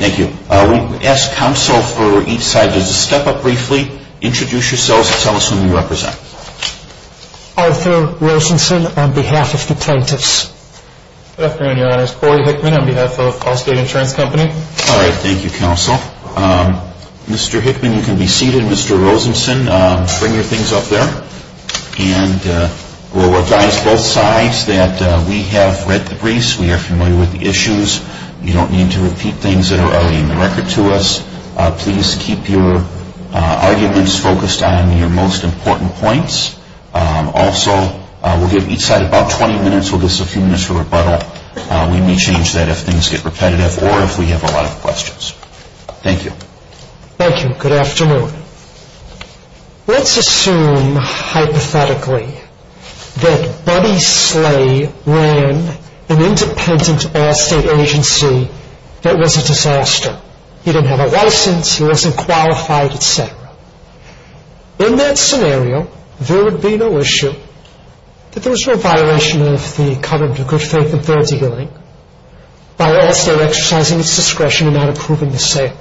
Thank you. We ask counsel for each side to step up briefly, introduce yourselves, and tell us who you represent. Arthur Rosenson, on behalf of the plaintiffs. Good afternoon, your honors. Corey Hickman, on behalf of Allstate Insurance Company. All right. Thank you, counsel. Mr. Hickman, you can be seated. Mr. Rosenson, bring your things up there. And we'll recognize both sides that we have read the briefs. We are familiar with the issues. You don't need to repeat things that are already in the record to us. Please keep your arguments focused on your most important points. Also, we'll give each side about 20 minutes. We'll give a few minutes for rebuttal. We may change that if things get repetitive or if we have a lot of questions. Thank you. Thank you. Good afternoon. Let's assume, hypothetically, that Buddy Slay ran an independent Allstate agency that was a disaster. He didn't have a license. He wasn't qualified, etc. In that scenario, there would be no issue that there was no violation of the covenant of good faith and fair dealing by Allstate exercising its discretion in not approving the sale.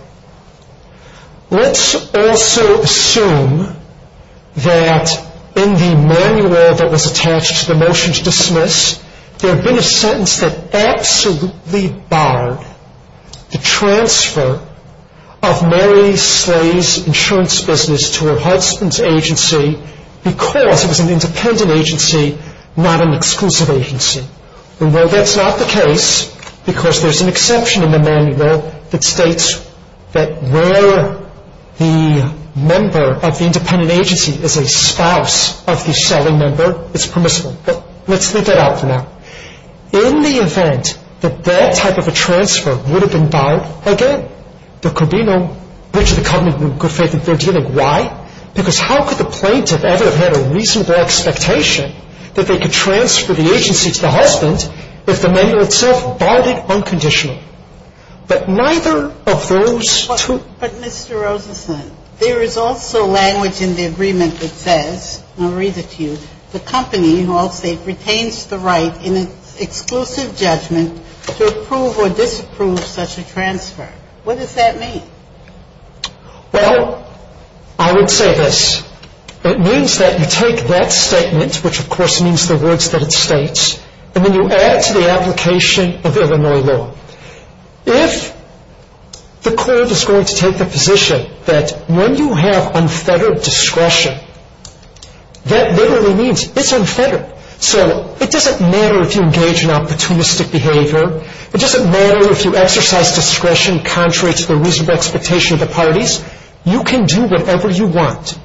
Let's also assume that in the manual that was attached to the motion to dismiss, there had been a sentence that absolutely barred the transfer of Mary Slay's insurance business to her husband's agency because it was an independent agency, not an exclusive agency. And while that's not the case, because there's an exception in the manual that states that where the member of the independent agency is a spouse of the selling member, it's permissible. But let's leave that out for now. In the event that that type of a transfer would have been barred again, there could be no breach of the covenant of good faith and fair dealing. Why? Because how could the plaintiff ever have had a reasonable expectation that they could transfer the agency to the husband if the manual itself barred it unconditionally? But neither of those two... But Mr. Rosenstein, there is also language in the agreement that says, and I'll read it to you, the company, in all state, retains the right in its exclusive judgment to approve or disapprove such a transfer. What does that mean? Well, I would say this. It means that you take that statement, which of course means the words that it states, and then you add it to the application of Illinois law. If the court is going to take the position that when you have unfettered discretion, that literally means it's unfettered. So it doesn't matter if you engage in opportunistic behavior. It doesn't matter if you exercise discretion contrary to the reasonable expectation of the parties. You can do whatever you want.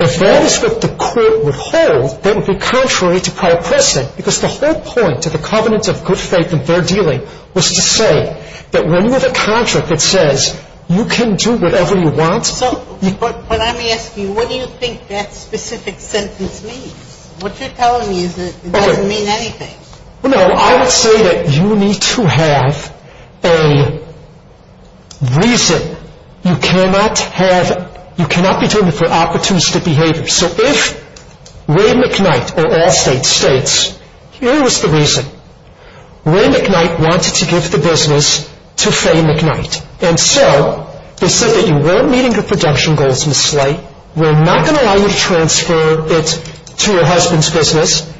If that is what the court would hold, that would be contrary to prior pressing, because the whole point of the covenant of good faith and fair dealing was to say that when you have a contract that says, you can do whatever you want... So when I'm asking you, what do you think that specific sentence means? What you're telling me is that it doesn't mean anything. No, I would say that you need to have a reason. You cannot be doing it for opportunistic behavior. So if Ray McKnight, or all state, states, here was the reason. Ray McKnight wanted to give the business to Faye McKnight. And so they said that you weren't meeting your production goals, Ms. Slate. We're not going to allow you to transfer it to your husband's business.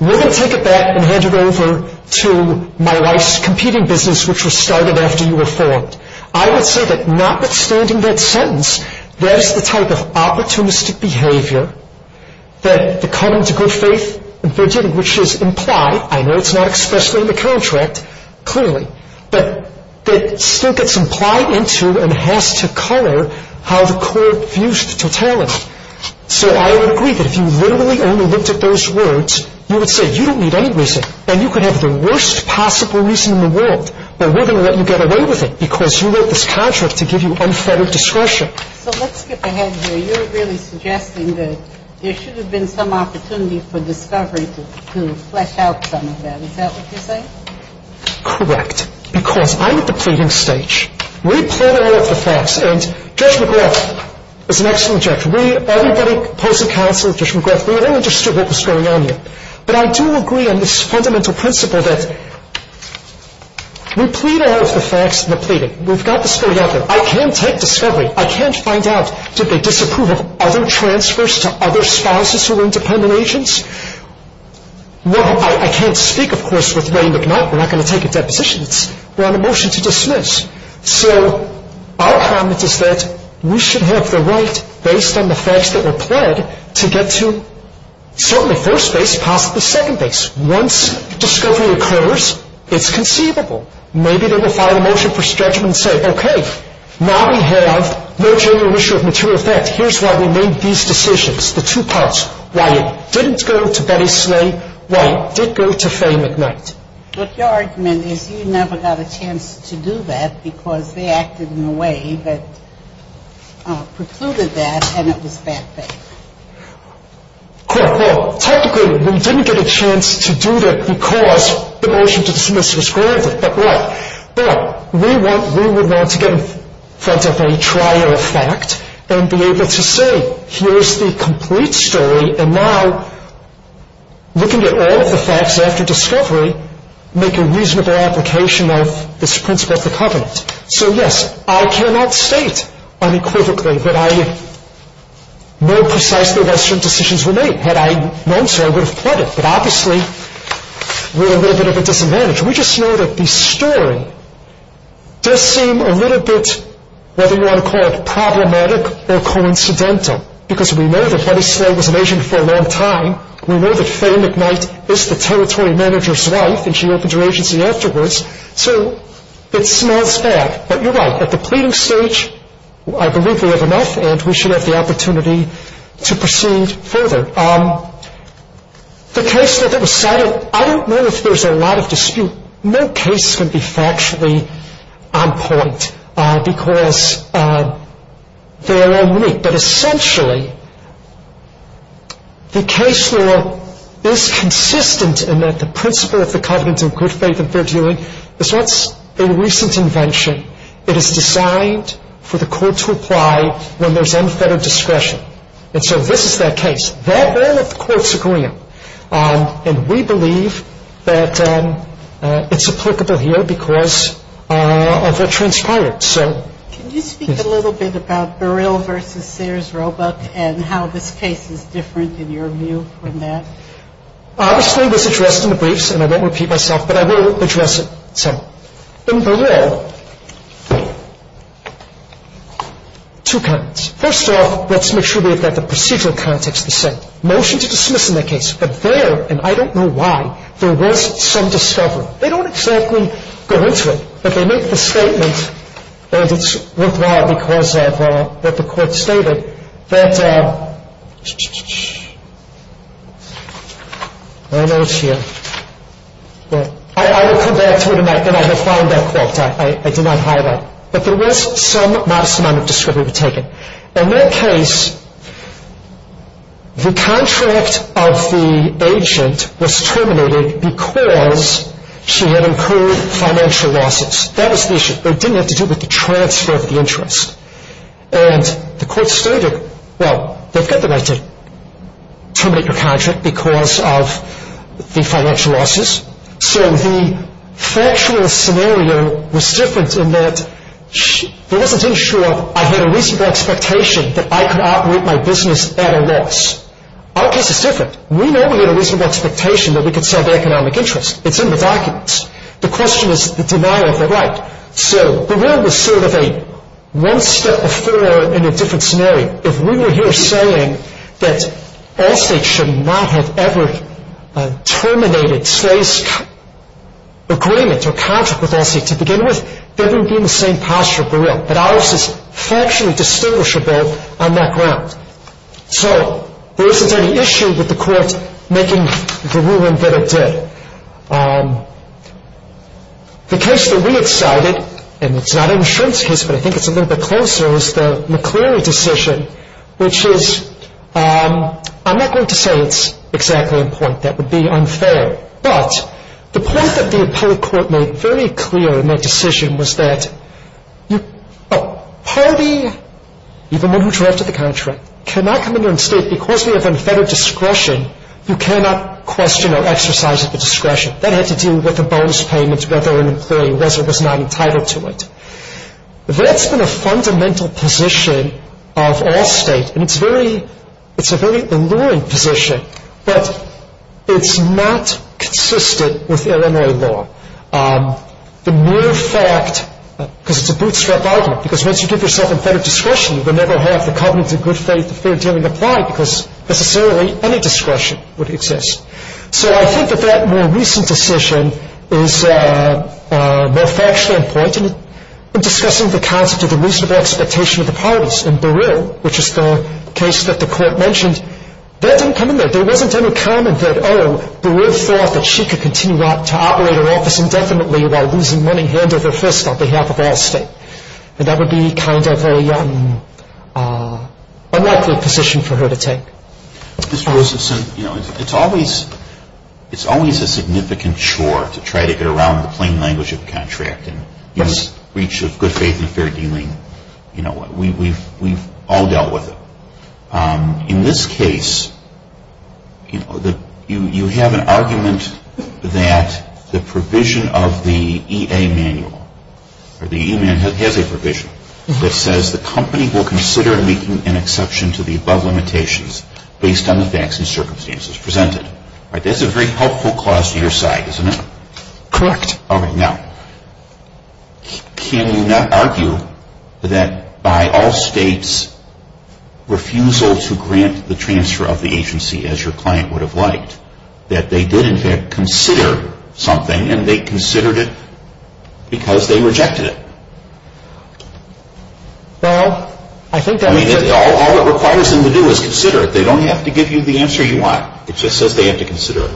We're going to take it back and hand it over to my wife's competing business, which was started after you were formed. I would say that notwithstanding that sentence, that is the type of opportunistic behavior, that the covenant of good faith and fair dealing, which is implied. I know it's not expressly in the contract, clearly. But that still gets implied into and has to color how the court views the totality. So I would agree that if you literally only looked at those words, you would say you don't need any reason. And you could have the worst possible reason in the world. But we're going to let you get away with it because you wrote this contract to give you unfettered discretion. So let's skip ahead here. You're really suggesting that there should have been some opportunity for discovery to flesh out some of that. Is that what you're saying? Correct. Because I'm at the pleading stage. We plead all of the facts. And Judge McGrath is an excellent judge. We, everybody, opposing counsel, Judge McGrath, we all understood what was going on here. But I do agree on this fundamental principle that we plead all of the facts in the pleading. We've got the story out there. I can't take discovery. I can't find out, did they disapprove of other transfers to other spouses who were independent agents? Well, I can't speak, of course, with Wayne McNutt. We're not going to take a deposition. We're on a motion to dismiss. So our comment is that we should have the right, based on the facts that were pled, to get to certainly first base, possibly second base. Once discovery occurs, it's conceivable. Maybe they will file a motion for stretchment and say, okay, now we have no genuine issue of material effect. Here's why we made these decisions, the two parts, why it didn't go to Betty Slay, why it did go to Faye McNutt. But your argument is you never got a chance to do that because they acted in a way that precluded that and it was fact-based. Technically, we didn't get a chance to do that because the motion to dismiss was granted. But we would want to get in front of a trial of fact and be able to say, here's the complete story. And now, looking at all of the facts after discovery, make a reasonable application of this principle of the covenant. So, yes, I cannot state unequivocally that I know precisely that certain decisions were made. Had I known so, I would have pled it. But obviously, we're a little bit of a disadvantage. We just know that the story does seem a little bit, whether you want to call it problematic or coincidental, because we know that Betty Slay was an agent for a long time. We know that Faye McNutt is the territory manager's wife and she opened her agency afterwards. So it smells bad. But you're right. At the pleading stage, I believe we have enough and we should have the opportunity to proceed further. The case that was cited, I don't know if there's a lot of dispute. No case can be factually on point because they are all unique. But essentially, the case law is consistent in that the principle of the covenant of good faith that they're doing is what's a recent invention. It is designed for the court to apply when there's unfettered discretion. And so this is that case. That will, of course, occur. And we believe that it's applicable here because of what transpired. Can you speak a little bit about Burrill v. Sayers Roebuck and how this case is different in your view from that? Obviously, this is addressed in the briefs and I won't repeat myself, but I will address it. So in Burrill, two comments. First off, let's make sure we've got the procedural context the same. Motion to dismiss in that case. But there, and I don't know why, there was some discovery. They don't exactly go into it, but they make the statement, and it's worthwhile because of what the court stated, that I know it's here. I will come back to it and I will find that quote. I did not highlight. But there was some modest amount of discovery taken. In that case, the contract of the agent was terminated because she had incurred financial losses. That was the issue. It didn't have to do with the transfer of the interest. And the court stated, well, they've got the right to terminate your contract because of the financial losses. So the factual scenario was different in that there wasn't any sure I had a reasonable expectation that I could operate my business at a loss. Our case is different. We normally had a reasonable expectation that we could sell the economic interest. It's in the documents. The question is the denial of the right. So Burrill was sort of a one step before in a different scenario. If we were here saying that Allstate should not have ever terminated Slay's agreement or contract with Allstate to begin with, then we would be in the same posture with Burrill. But ours is factually distinguishable on that ground. So there isn't any issue with the court making the ruling that it did. The case that we decided, and it's not an insurance case, but I think it's a little bit closer, is the McCleary decision, which is, I'm not going to say it's exactly on point. That would be unfair. But the point that the appellate court made very clear in that decision was that a party, even one who drafted the contract, cannot come in here and state because we have unfettered discretion, you cannot question or exercise the discretion. That had to do with the bonus payment, whether an employee was or was not entitled to it. That's been a fundamental position of Allstate, and it's a very alluring position, but it's not consistent with MRA law. The mere fact, because it's a bootstrap argument, because once you give yourself unfettered discretion, you will never have the covenants of good faith and fair dealing apply because necessarily any discretion would exist. So I think that that more recent decision is more factually on point in discussing the concept of the reasonable expectation of the parties. In Barreau, which is the case that the court mentioned, that didn't come in there. There wasn't any comment that, oh, Barreau thought that she could continue to operate her office indefinitely while losing money hand over fist on behalf of Allstate. That would be kind of a unlikely position for her to take. Mr. Rosenson, you know, it's always a significant chore to try to get around the plain language of contracting, this breach of good faith and fair dealing. You know, we've all dealt with it. In this case, you know, you have an argument that the provision of the EA manual or the E-man has a provision that says the company will consider making an exception to the above limitations based on the facts and circumstances presented. That's a very helpful clause to your side, isn't it? Correct. All right. Now, can you not argue that by Allstate's refusal to grant the transfer of the agency as your client would have liked, that they did, in fact, consider something and they considered it because they rejected it? Well, I think that's I mean, all it requires them to do is consider it. They don't have to give you the answer you want. It just says they have to consider it.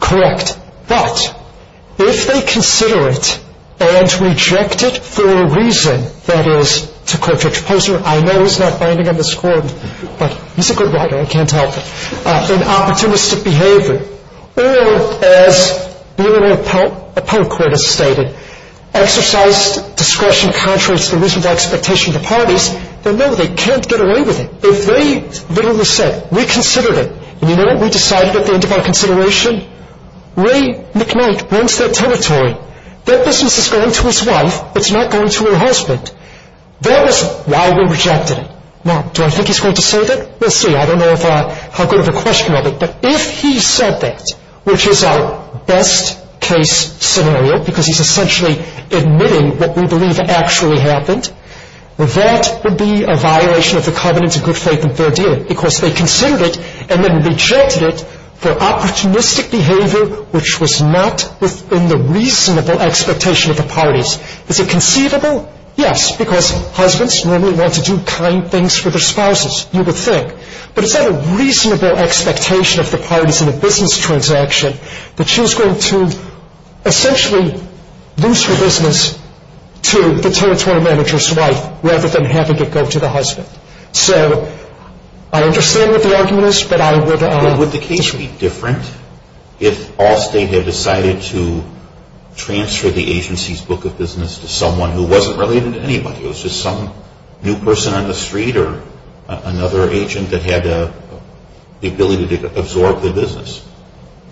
Correct. But if they consider it and reject it for a reason, that is, to quote Richard Posner, I know he's not binding on this court, but he's a good writer. I can't help it. In opportunistic behavior, or as Bill O'Ponk would have stated, exercise discretion contradicts the reasonable expectation of the parties. Then, no, they can't get away with it. If they literally said, we considered it, and you know what we decided at the end of our consideration? Ray McKnight runs that territory. That business is going to his wife. It's not going to her husband. That is why we rejected it. Now, do I think he's going to save it? We'll see. I don't know how good of a question of it. But if he said that, which is our best-case scenario, because he's essentially admitting what we believe actually happened, that would be a violation of the covenants of good faith and fair dealing, because they considered it and then rejected it for opportunistic behavior, which was not within the reasonable expectation of the parties. Is it conceivable? Yes, because husbands normally want to do kind things for their spouses, you would think. But is that a reasonable expectation of the parties in a business transaction, that she's going to essentially lose her business to the territory manager's wife rather than having it go to the husband? So I understand what the argument is, but I would – Would the case be different if Allstate had decided to transfer the agency's book of business to someone who wasn't related to anybody? It was just some new person on the street or another agent that had the ability to absorb the business?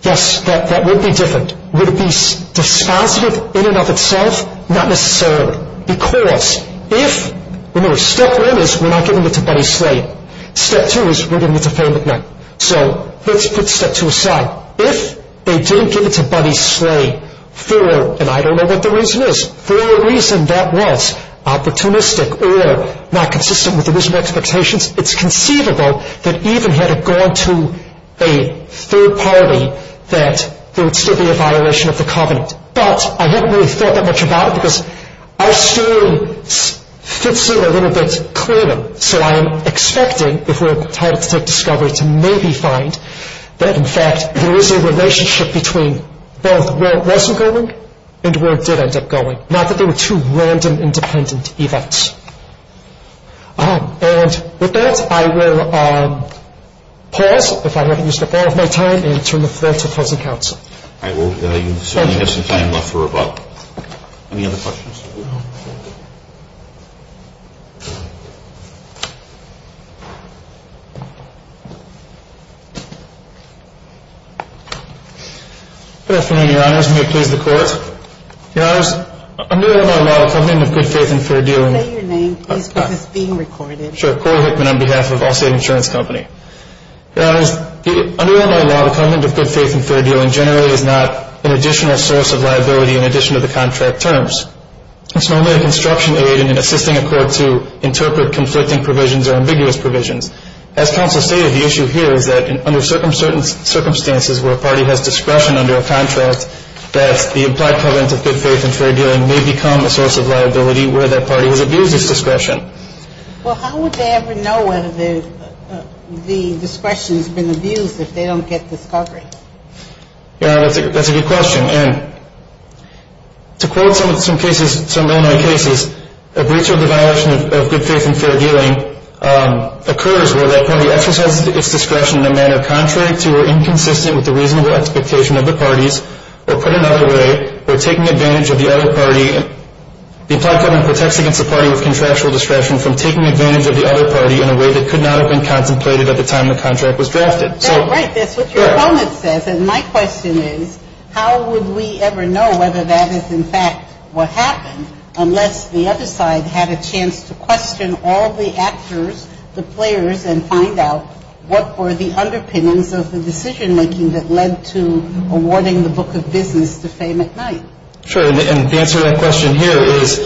Yes, that would be different. Would it be dispositive in and of itself? Not necessarily. Because if – remember, step one is we're not giving it to Buddy Slade. Step two is we're giving it to Fannie McNutt. So let's put step two aside. If they didn't give it to Buddy Slade for – and I don't know what the reason is – for whatever reason that was opportunistic or not consistent with the reasonable expectations, it's conceivable that even had it gone to a third party, that there would still be a violation of the covenant. But I haven't really thought that much about it because our story fits in a little bit clearly. So I am expecting, if we're entitled to take discovery, to maybe find that, in fact, there is a relationship between both where it wasn't going and where it did end up going, not that they were two random independent events. And with that, I will pause, if I haven't used up all of my time, and turn the floor to opposing counsel. All right. Well, you certainly have some time left for rebuttal. Any other questions? Good afternoon, Your Honors. May it please the Court. Your Honors, under Illinois law, the covenant of good faith and fair dealing – Say your name, please, because it's being recorded. Sure. Cora Hickman on behalf of Allstate Insurance Company. Your Honors, under Illinois law, the covenant of good faith and fair dealing generally is not an additional source of liability in addition to the contract terms. It's normally a construction aid in assisting a court to interpret conflicting provisions or ambiguous provisions. As counsel stated, the issue here is that under certain circumstances where a party has discretion under a contract, that the implied covenant of good faith and fair dealing may become a source of liability where that party has abused its discretion. Well, how would they ever know whether the discretion has been abused if they don't get discovery? Your Honor, that's a good question. And to quote some cases, some Illinois cases, a breach of the violation of good faith and fair dealing occurs where that party exercises its discretion in a manner contrary to or inconsistent with the reasonable expectation of the parties or put another way, or taking advantage of the other party. The implied covenant protects against a party with contractual discretion from taking advantage of the other party in a way that could not have been contemplated at the time the contract was drafted. That's right. That's what your comment says. And my question is, how would we ever know whether that is in fact what happened unless the other side had a chance to question all the actors, the players, and find out what were the underpinnings of the decision-making that led to awarding the Book of Business to Faye McKnight? Sure. And to answer that question here is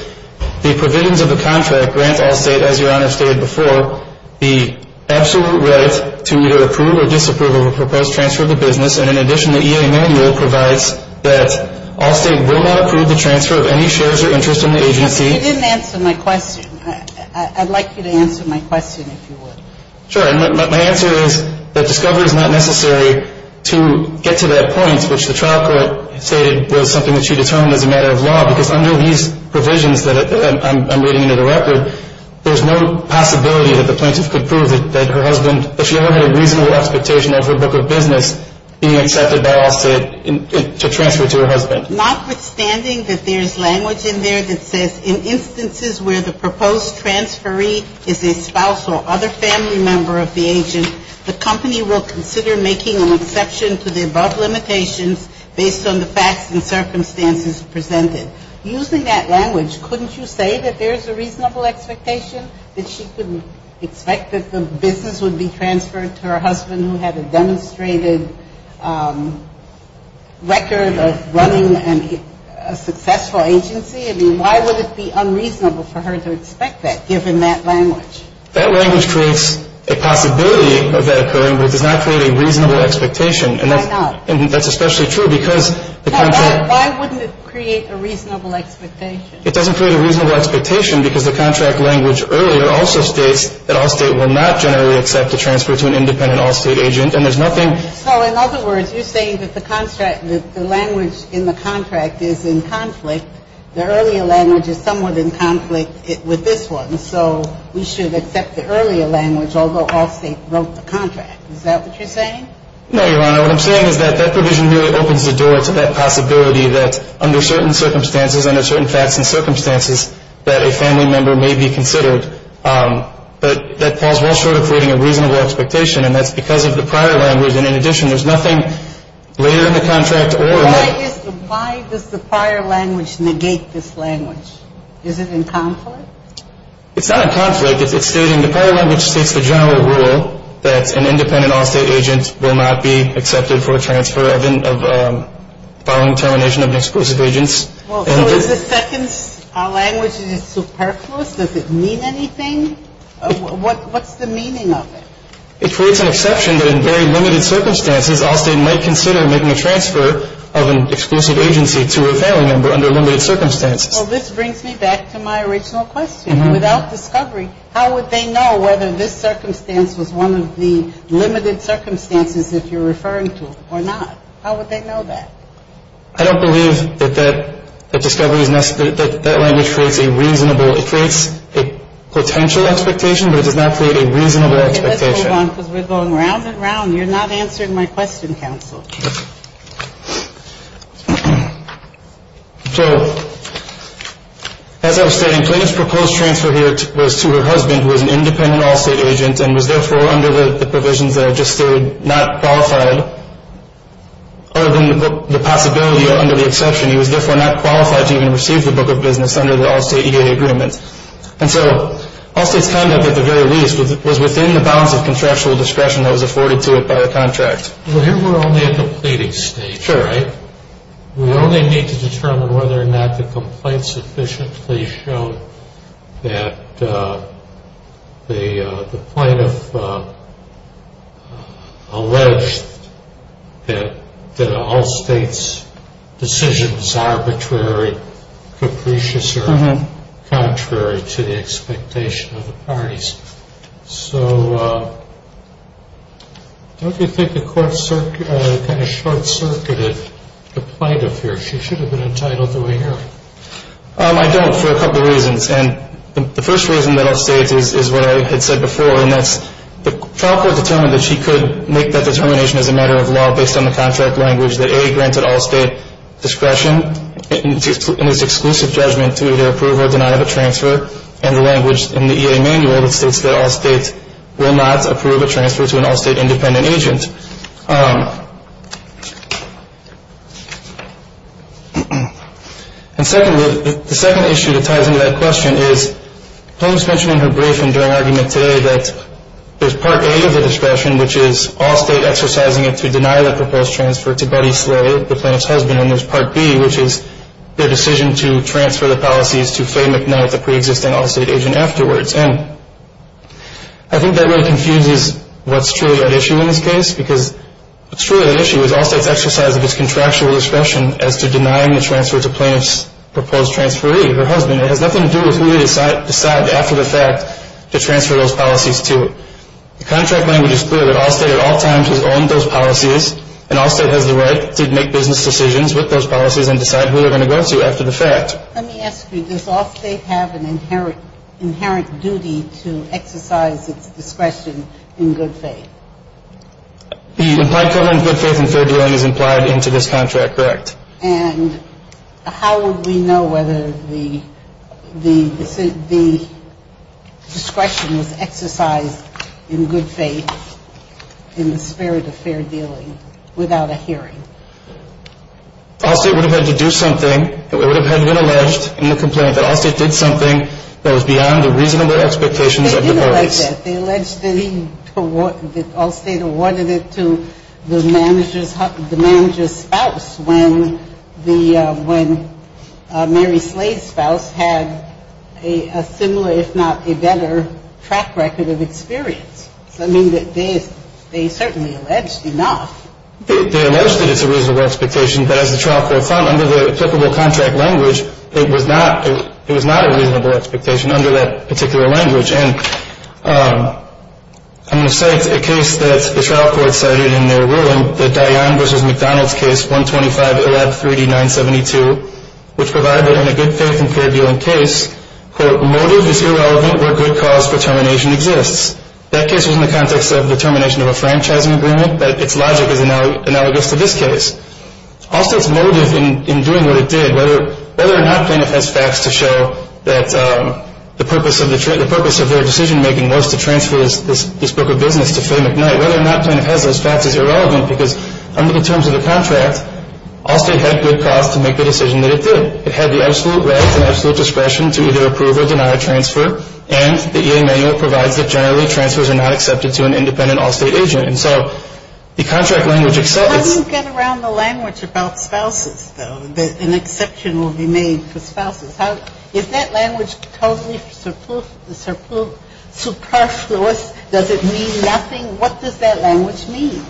the provisions of the contract grant all State, as Your Honor stated before, the absolute right to either approve or disapprove a proposed transfer of the business, and in addition, the E.A. manual provides that all State will not approve the transfer of any shares or interest in the agency. You didn't answer my question. I'd like you to answer my question if you would. Sure. My answer is that discovery is not necessary to get to that point, which the trial court stated was something that she determined as a matter of law, because under these provisions that I'm reading into the record, there's no possibility that the plaintiff could prove that her husband, if she ever had a reasonable expectation of her Book of Business, being accepted by all State to transfer to her husband. Notwithstanding that there's language in there that says, in instances where the proposed transferee is a spouse or other family member of the agent, the company will consider making an exception to the above limitations based on the facts and circumstances presented. Using that language, couldn't you say that there's a reasonable expectation that she couldn't expect that the business would be transferred to her husband who had a demonstrated record of running a successful agency? I mean, why would it be unreasonable for her to expect that, given that language? That language creates a possibility of that occurring, but it does not create a reasonable expectation. Why not? And that's especially true because the contract. Now, why wouldn't it create a reasonable expectation? It doesn't create a reasonable expectation because the contract language earlier also states that all State will not generally accept a transfer to an independent all State agent, and there's nothing. So in other words, you're saying that the contract, the language in the contract is in conflict. The earlier language is somewhat in conflict with this one, so we should accept the earlier language, although all State broke the contract. Is that what you're saying? No, Your Honor. What I'm saying is that that provision really opens the door to that possibility that under certain circumstances, under certain facts and circumstances, that a family member may be considered. But that falls well short of creating a reasonable expectation, and that's because of the prior language. And in addition, there's nothing later in the contract or... Why does the prior language negate this language? Is it in conflict? It's not in conflict. It's stating the prior language states the general rule that an independent all State agent will not be accepted for a transfer following termination of an exclusive agent. So is the second language superfluous? Does it mean anything? What's the meaning of it? It creates an exception that in very limited circumstances, all State might consider making a transfer of an exclusive agency to a family member under limited circumstances. Well, this brings me back to my original question. Without discovery, how would they know whether this circumstance was one of the limited circumstances if you're referring to it or not? How would they know that? I don't believe that discovery is necessary. That language creates a reasonable... It creates a potential expectation, but it does not create a reasonable expectation. Okay, let's move on because we're going round and round. You're not answering my question, counsel. So as I was stating, Clayton's proposed transfer here was to her husband who was an independent all State agent and was therefore under the provisions that I just stated not qualified other than the possibility under the exception. He was therefore not qualified to even receive the book of business under the all State EAA agreement. And so all State's conduct at the very least was within the bounds of contractual discretion that was afforded to it by the contract. Well, here we're only at the pleading stage, right? We only need to determine whether or not the complaint sufficiently showed that the plaintiff alleged that all State's decision was arbitrary, capricious, or contrary to the expectation of the parties. So don't you think the court kind of short circuited the plaintiff here? She should have been entitled to a hearing. I don't for a couple of reasons. And the first reason that all State's is what I had said before, and that's the trial court determined that she could make that determination as a matter of law based on the contract language that A, granted all State discretion in its exclusive judgment to either approve or deny the transfer, and the language in the EAA manual that states that all State's will not approve a transfer to an all State independent agent. And secondly, the second issue that ties into that question is, Thomas mentioned in her brief and during argument today that there's part A of the discretion, which is all State exercising it to deny the proposed transfer to Buddy Slay, the plaintiff's husband, and then there's part B, which is their decision to transfer the policies to Faye McNutt, the preexisting all State agent, afterwards. And I think that really confuses what's truly at issue in this case, because what's truly at issue is all State's exercise of its contractual discretion as to denying the transfer to plaintiff's proposed transferee, her husband. It has nothing to do with who they decide after the fact to transfer those policies to. The contract language is clear that all State at all times has owned those policies, and all State has the right to make business decisions with those policies and decide who they're going to go to after the fact. Let me ask you, does all State have an inherent duty to exercise its discretion in good faith? Implied covenant of good faith and fair dealing is implied into this contract, correct. And how would we know whether the discretion was exercised in good faith in the spirit of fair dealing without a hearing? All State would have had to do something. It would have been alleged in the complaint that all State did something that was beyond the reasonable expectations of the parties. They alleged that all State awarded it to the manager's spouse when Mary Slade's spouse had a similar, if not a better, track record of experience. So I mean, they certainly alleged enough. They alleged that it's a reasonable expectation, but as the trial court found, under the applicable contract language, it was not a reasonable expectation under that particular language. And I'm going to cite a case that the trial court cited in their ruling, the Dionne v. McDonald's case 125-113-972, which provided in a good faith and fair dealing case, quote, motive is irrelevant where good cause determination exists. That case was in the context of determination of a franchising agreement, but its logic is analogous to this case. All State's motive in doing what it did, whether or not plaintiff has facts to show that the purpose of their decision-making was to transfer this book of business to Faye McKnight, whether or not plaintiff has those facts is irrelevant, because under the terms of the contract, All State had good cause to make the decision that it did. It had the absolute right and absolute discretion to either approve or deny a transfer, and the E.A. manual provides that generally transfers are not accepted to an independent All State agent. And so the contract language accepts. But how do you get around the language about spouses, though, that an exception will be made for spouses? If that language totally superfluous, does it mean nothing? What does that language mean?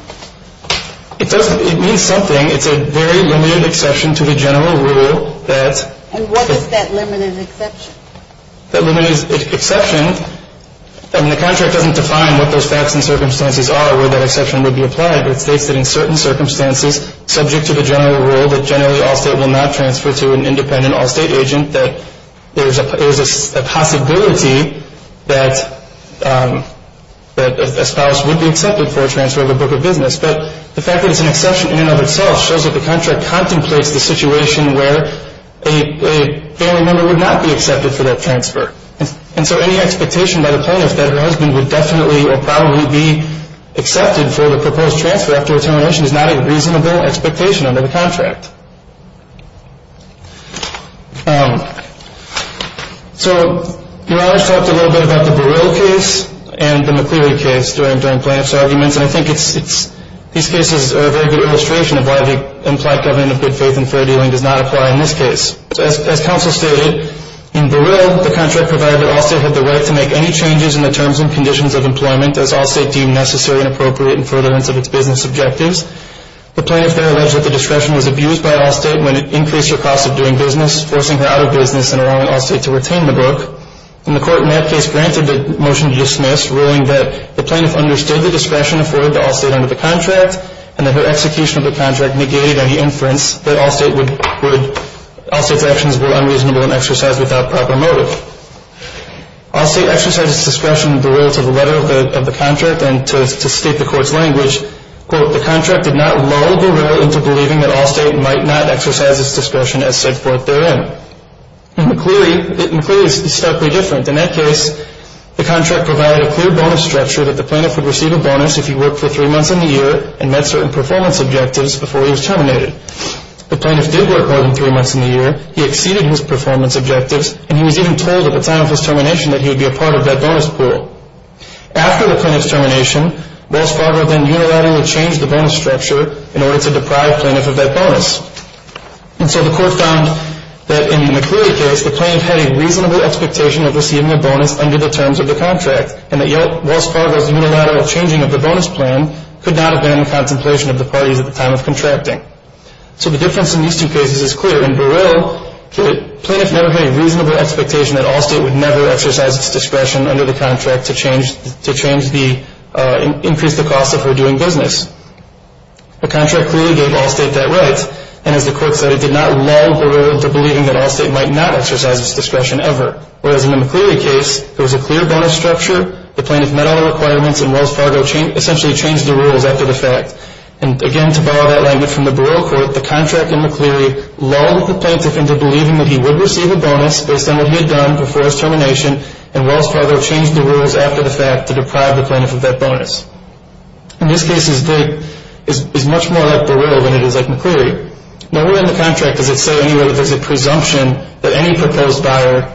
It means something. It's a very limited exception to the general rule that — And what is that limited exception? That limited exception — I mean, the contract doesn't define what those facts and circumstances are, where that exception would be applied. It states that in certain circumstances, subject to the general rule, that generally All State will not transfer to an independent All State agent, that there is a possibility that a spouse would be accepted for a transfer of a book of business. But the fact that it's an exception in and of itself shows that the contract contemplates the situation where a family member would not be accepted for that transfer. And so any expectation by the plaintiff that her husband would definitely or probably be accepted for the proposed transfer after termination is not a reasonable expectation under the contract. So Murage talked a little bit about the Burrill case and the McCleary case during plaintiff's arguments. And I think these cases are a very good illustration of why the implied government of good faith and fair dealing does not apply in this case. As counsel stated, in Burrill, the contract provider, All State, had the right to make any changes in the terms and conditions of employment as All State deemed necessary and appropriate in furtherance of its business objectives. The plaintiff there alleged that the discretion was abused by All State when it increased her cost of doing business, forcing her out of business and allowing All State to retain the book. And the court in that case granted the motion to dismiss, ruling that the plaintiff understood the discretion afforded to All State under the contract and that her execution of the contract negated any inference that All State's actions were unreasonable and exercised without proper motive. All State exercised its discretion in Burrill to the letter of the contract and to state the court's language, quote, the contract did not lull Burrill into believing that All State might not exercise its discretion as set forth therein. And McCleary is starkly different. In that case, the contract provided a clear bonus structure that the plaintiff would receive a bonus if he worked for three months in the year and met certain performance objectives before he was terminated. The plaintiff did work more than three months in the year, he exceeded his performance objectives, and he was even told at the time of his termination that he would be a part of that bonus pool. After the plaintiff's termination, Wells Fargo then unilaterally changed the bonus structure in order to deprive plaintiff of that bonus. And so the court found that in the McCleary case, the plaintiff had a reasonable expectation of receiving a bonus under the terms of the contract and that Wells Fargo's unilateral changing of the bonus plan could not have been in the contemplation of the parties at the time of contracting. So the difference in these two cases is clear. In Burrill, the plaintiff never had a reasonable expectation that All State would never exercise its discretion under the contract to change the, increase the cost of her doing business. The contract clearly gave All State that right, and as the court said, it did not lull Burrill into believing that All State might not exercise its discretion ever. Whereas in the McCleary case, there was a clear bonus structure, the plaintiff met all the requirements, and Wells Fargo essentially changed the rules after the fact. And again, to borrow that line from the Burrill court, the contract in McCleary lulled the plaintiff into believing that he would receive a bonus based on what he had done before his termination, and Wells Fargo changed the rules after the fact to deprive the plaintiff of that bonus. And this case is much more like Burrill than it is like McCleary. Nowhere in the contract does it say anywhere that there's a presumption that any proposed buyer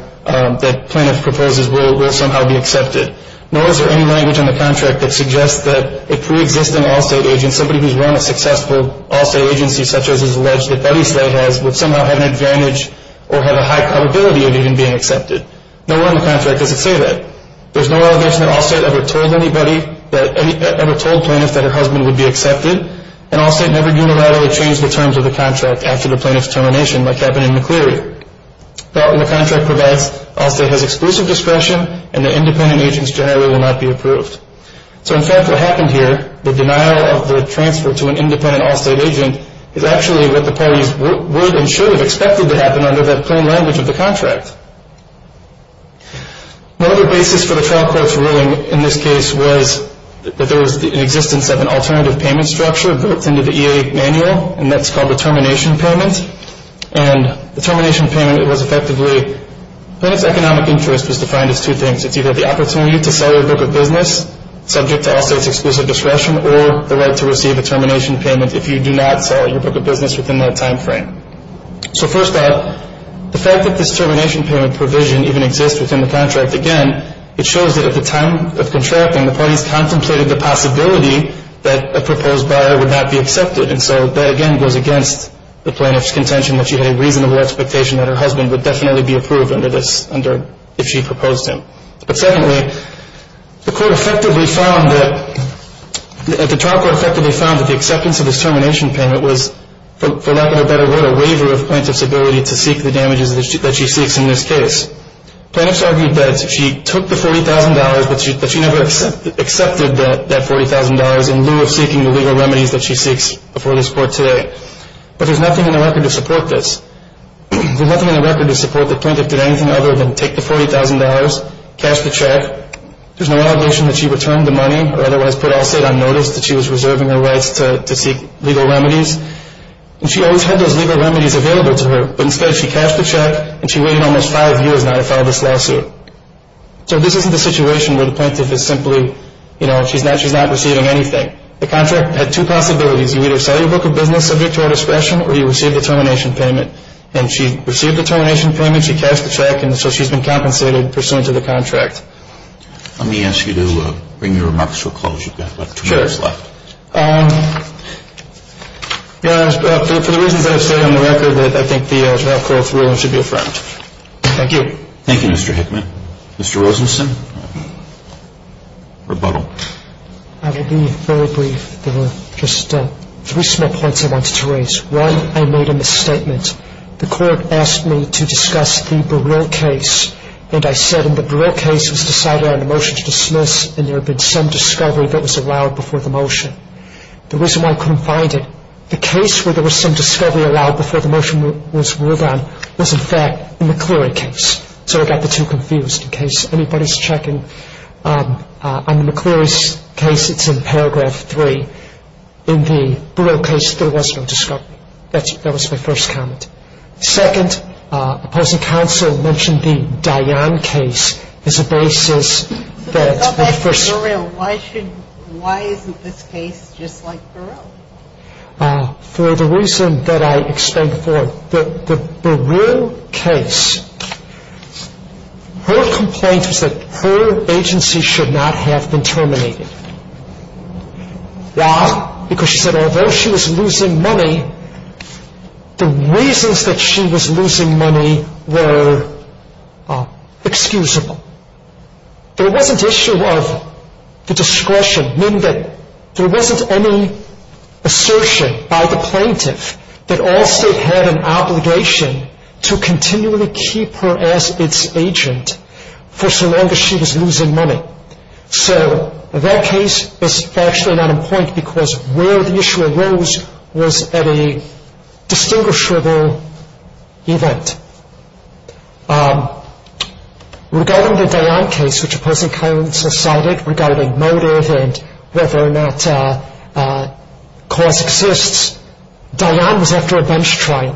that plaintiff proposes will somehow be accepted. Nor is there any language in the contract that suggests that a preexisting All State agent, somebody who's run a successful All State agency such as is alleged that Eddie Slate has, would somehow have an advantage or have a high probability of even being accepted. Nowhere in the contract does it say that. There's no allegation that All State ever told anybody that, ever told plaintiffs that her husband would be accepted, and All State never unilaterally changed the terms of the contract after the plaintiff's termination like happened in McCleary. But the contract provides All State has exclusive discretion and the independent agents generally will not be approved. So in fact what happened here, the denial of the transfer to an independent All State agent, is actually what the parties would and should have expected to happen under that plain language of the contract. Another basis for the trial court's ruling in this case was that there was an existence of an alternative payment structure built into the EA manual, and that's called a termination payment. And the termination payment was effectively, plaintiff's economic interest was defined as two things. It's either the opportunity to sell your book of business, subject to All State's exclusive discretion, or the right to receive a termination payment if you do not sell your book of business within that time frame. So first off, the fact that this termination payment provision even exists within the contract, again, it shows that at the time of contracting, the parties contemplated the possibility that a proposed buyer would not be accepted. And so that again goes against the plaintiff's contention that she had a reasonable expectation that her husband would definitely be approved under this, if she proposed him. But secondly, the court effectively found that, the trial court effectively found that the acceptance of this termination payment was, for lack of a better word, a waiver of plaintiff's ability to seek the damages that she seeks in this case. Plaintiffs argued that she took the $40,000, but she never accepted that $40,000 in lieu of seeking the legal remedies that she seeks before this court today. But there's nothing in the record to support this. There's nothing in the record to support that the plaintiff did anything other than take the $40,000, cash the check, there's no allegation that she returned the money, or otherwise put All State on notice that she was reserving her rights to seek legal remedies. And she always had those legal remedies available to her, but instead she cashed the check and she waited almost five years now to file this lawsuit. So this isn't a situation where the plaintiff is simply, you know, she's not receiving anything. The contract had two possibilities. You either sell your book of business subject to our discretion, or you receive the termination payment. And she received the termination payment, she cashed the check, and so she's been compensated pursuant to the contract. Let me ask you to bring your remarks to a close. You've got about two minutes left. Sure. For the reasons I have stated on the record, I think the trial court's ruling should be affirmed. Thank you. Thank you, Mr. Hickman. Mr. Rosenstein, rebuttal. I will be very brief. There were just three small points I wanted to raise. One, I made a misstatement. The court asked me to discuss the Burrill case, and I said in the Burrill case it was decided on the motion to dismiss, and there had been some discovery that was allowed before the motion. The reason why I couldn't find it, the case where there was some discovery allowed before the motion was ruled on, was, in fact, the McCleary case. So I got the two confused. In case anybody's checking on the McCleary's case, it's in paragraph three. In the Burrill case, there was no discovery. That was my first comment. Second, opposing counsel mentioned the Dionne case as a basis that the first... I thought that's Burrill. Why isn't this case just like Burrill? For the reason that I explained before, the Burrill case, her complaint was that her agency should not have been terminated. Why? Because she said although she was losing money, the reasons that she was losing money were excusable. There wasn't issue of the discretion, meaning that there wasn't any assertion by the plaintiff that Allstate had an obligation to continually keep her as its agent for so long as she was losing money. So that case is actually not in point because where the issue arose was at a distinguishable event. Regarding the Dionne case, which opposing counsel cited regarding motive and whether or not cause exists, Dionne was after a bench trial,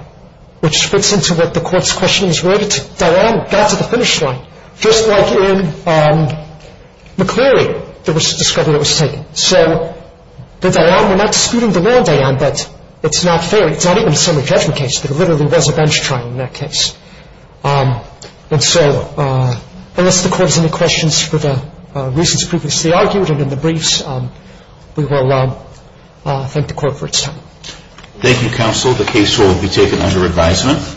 which fits into what the court's question is. Where did Dionne get to the finish line? Just like in McCleary, there was a discovery that was taken. So the Dionne, we're not disputing the non-Dionne, but it's not fair. It's not even a summary judgment case. There literally was a bench trial in that case. And so unless the court has any questions for the reasons previously argued and in the briefs, we will thank the court for its time. Thank you, counsel. The case will be taken under advisement.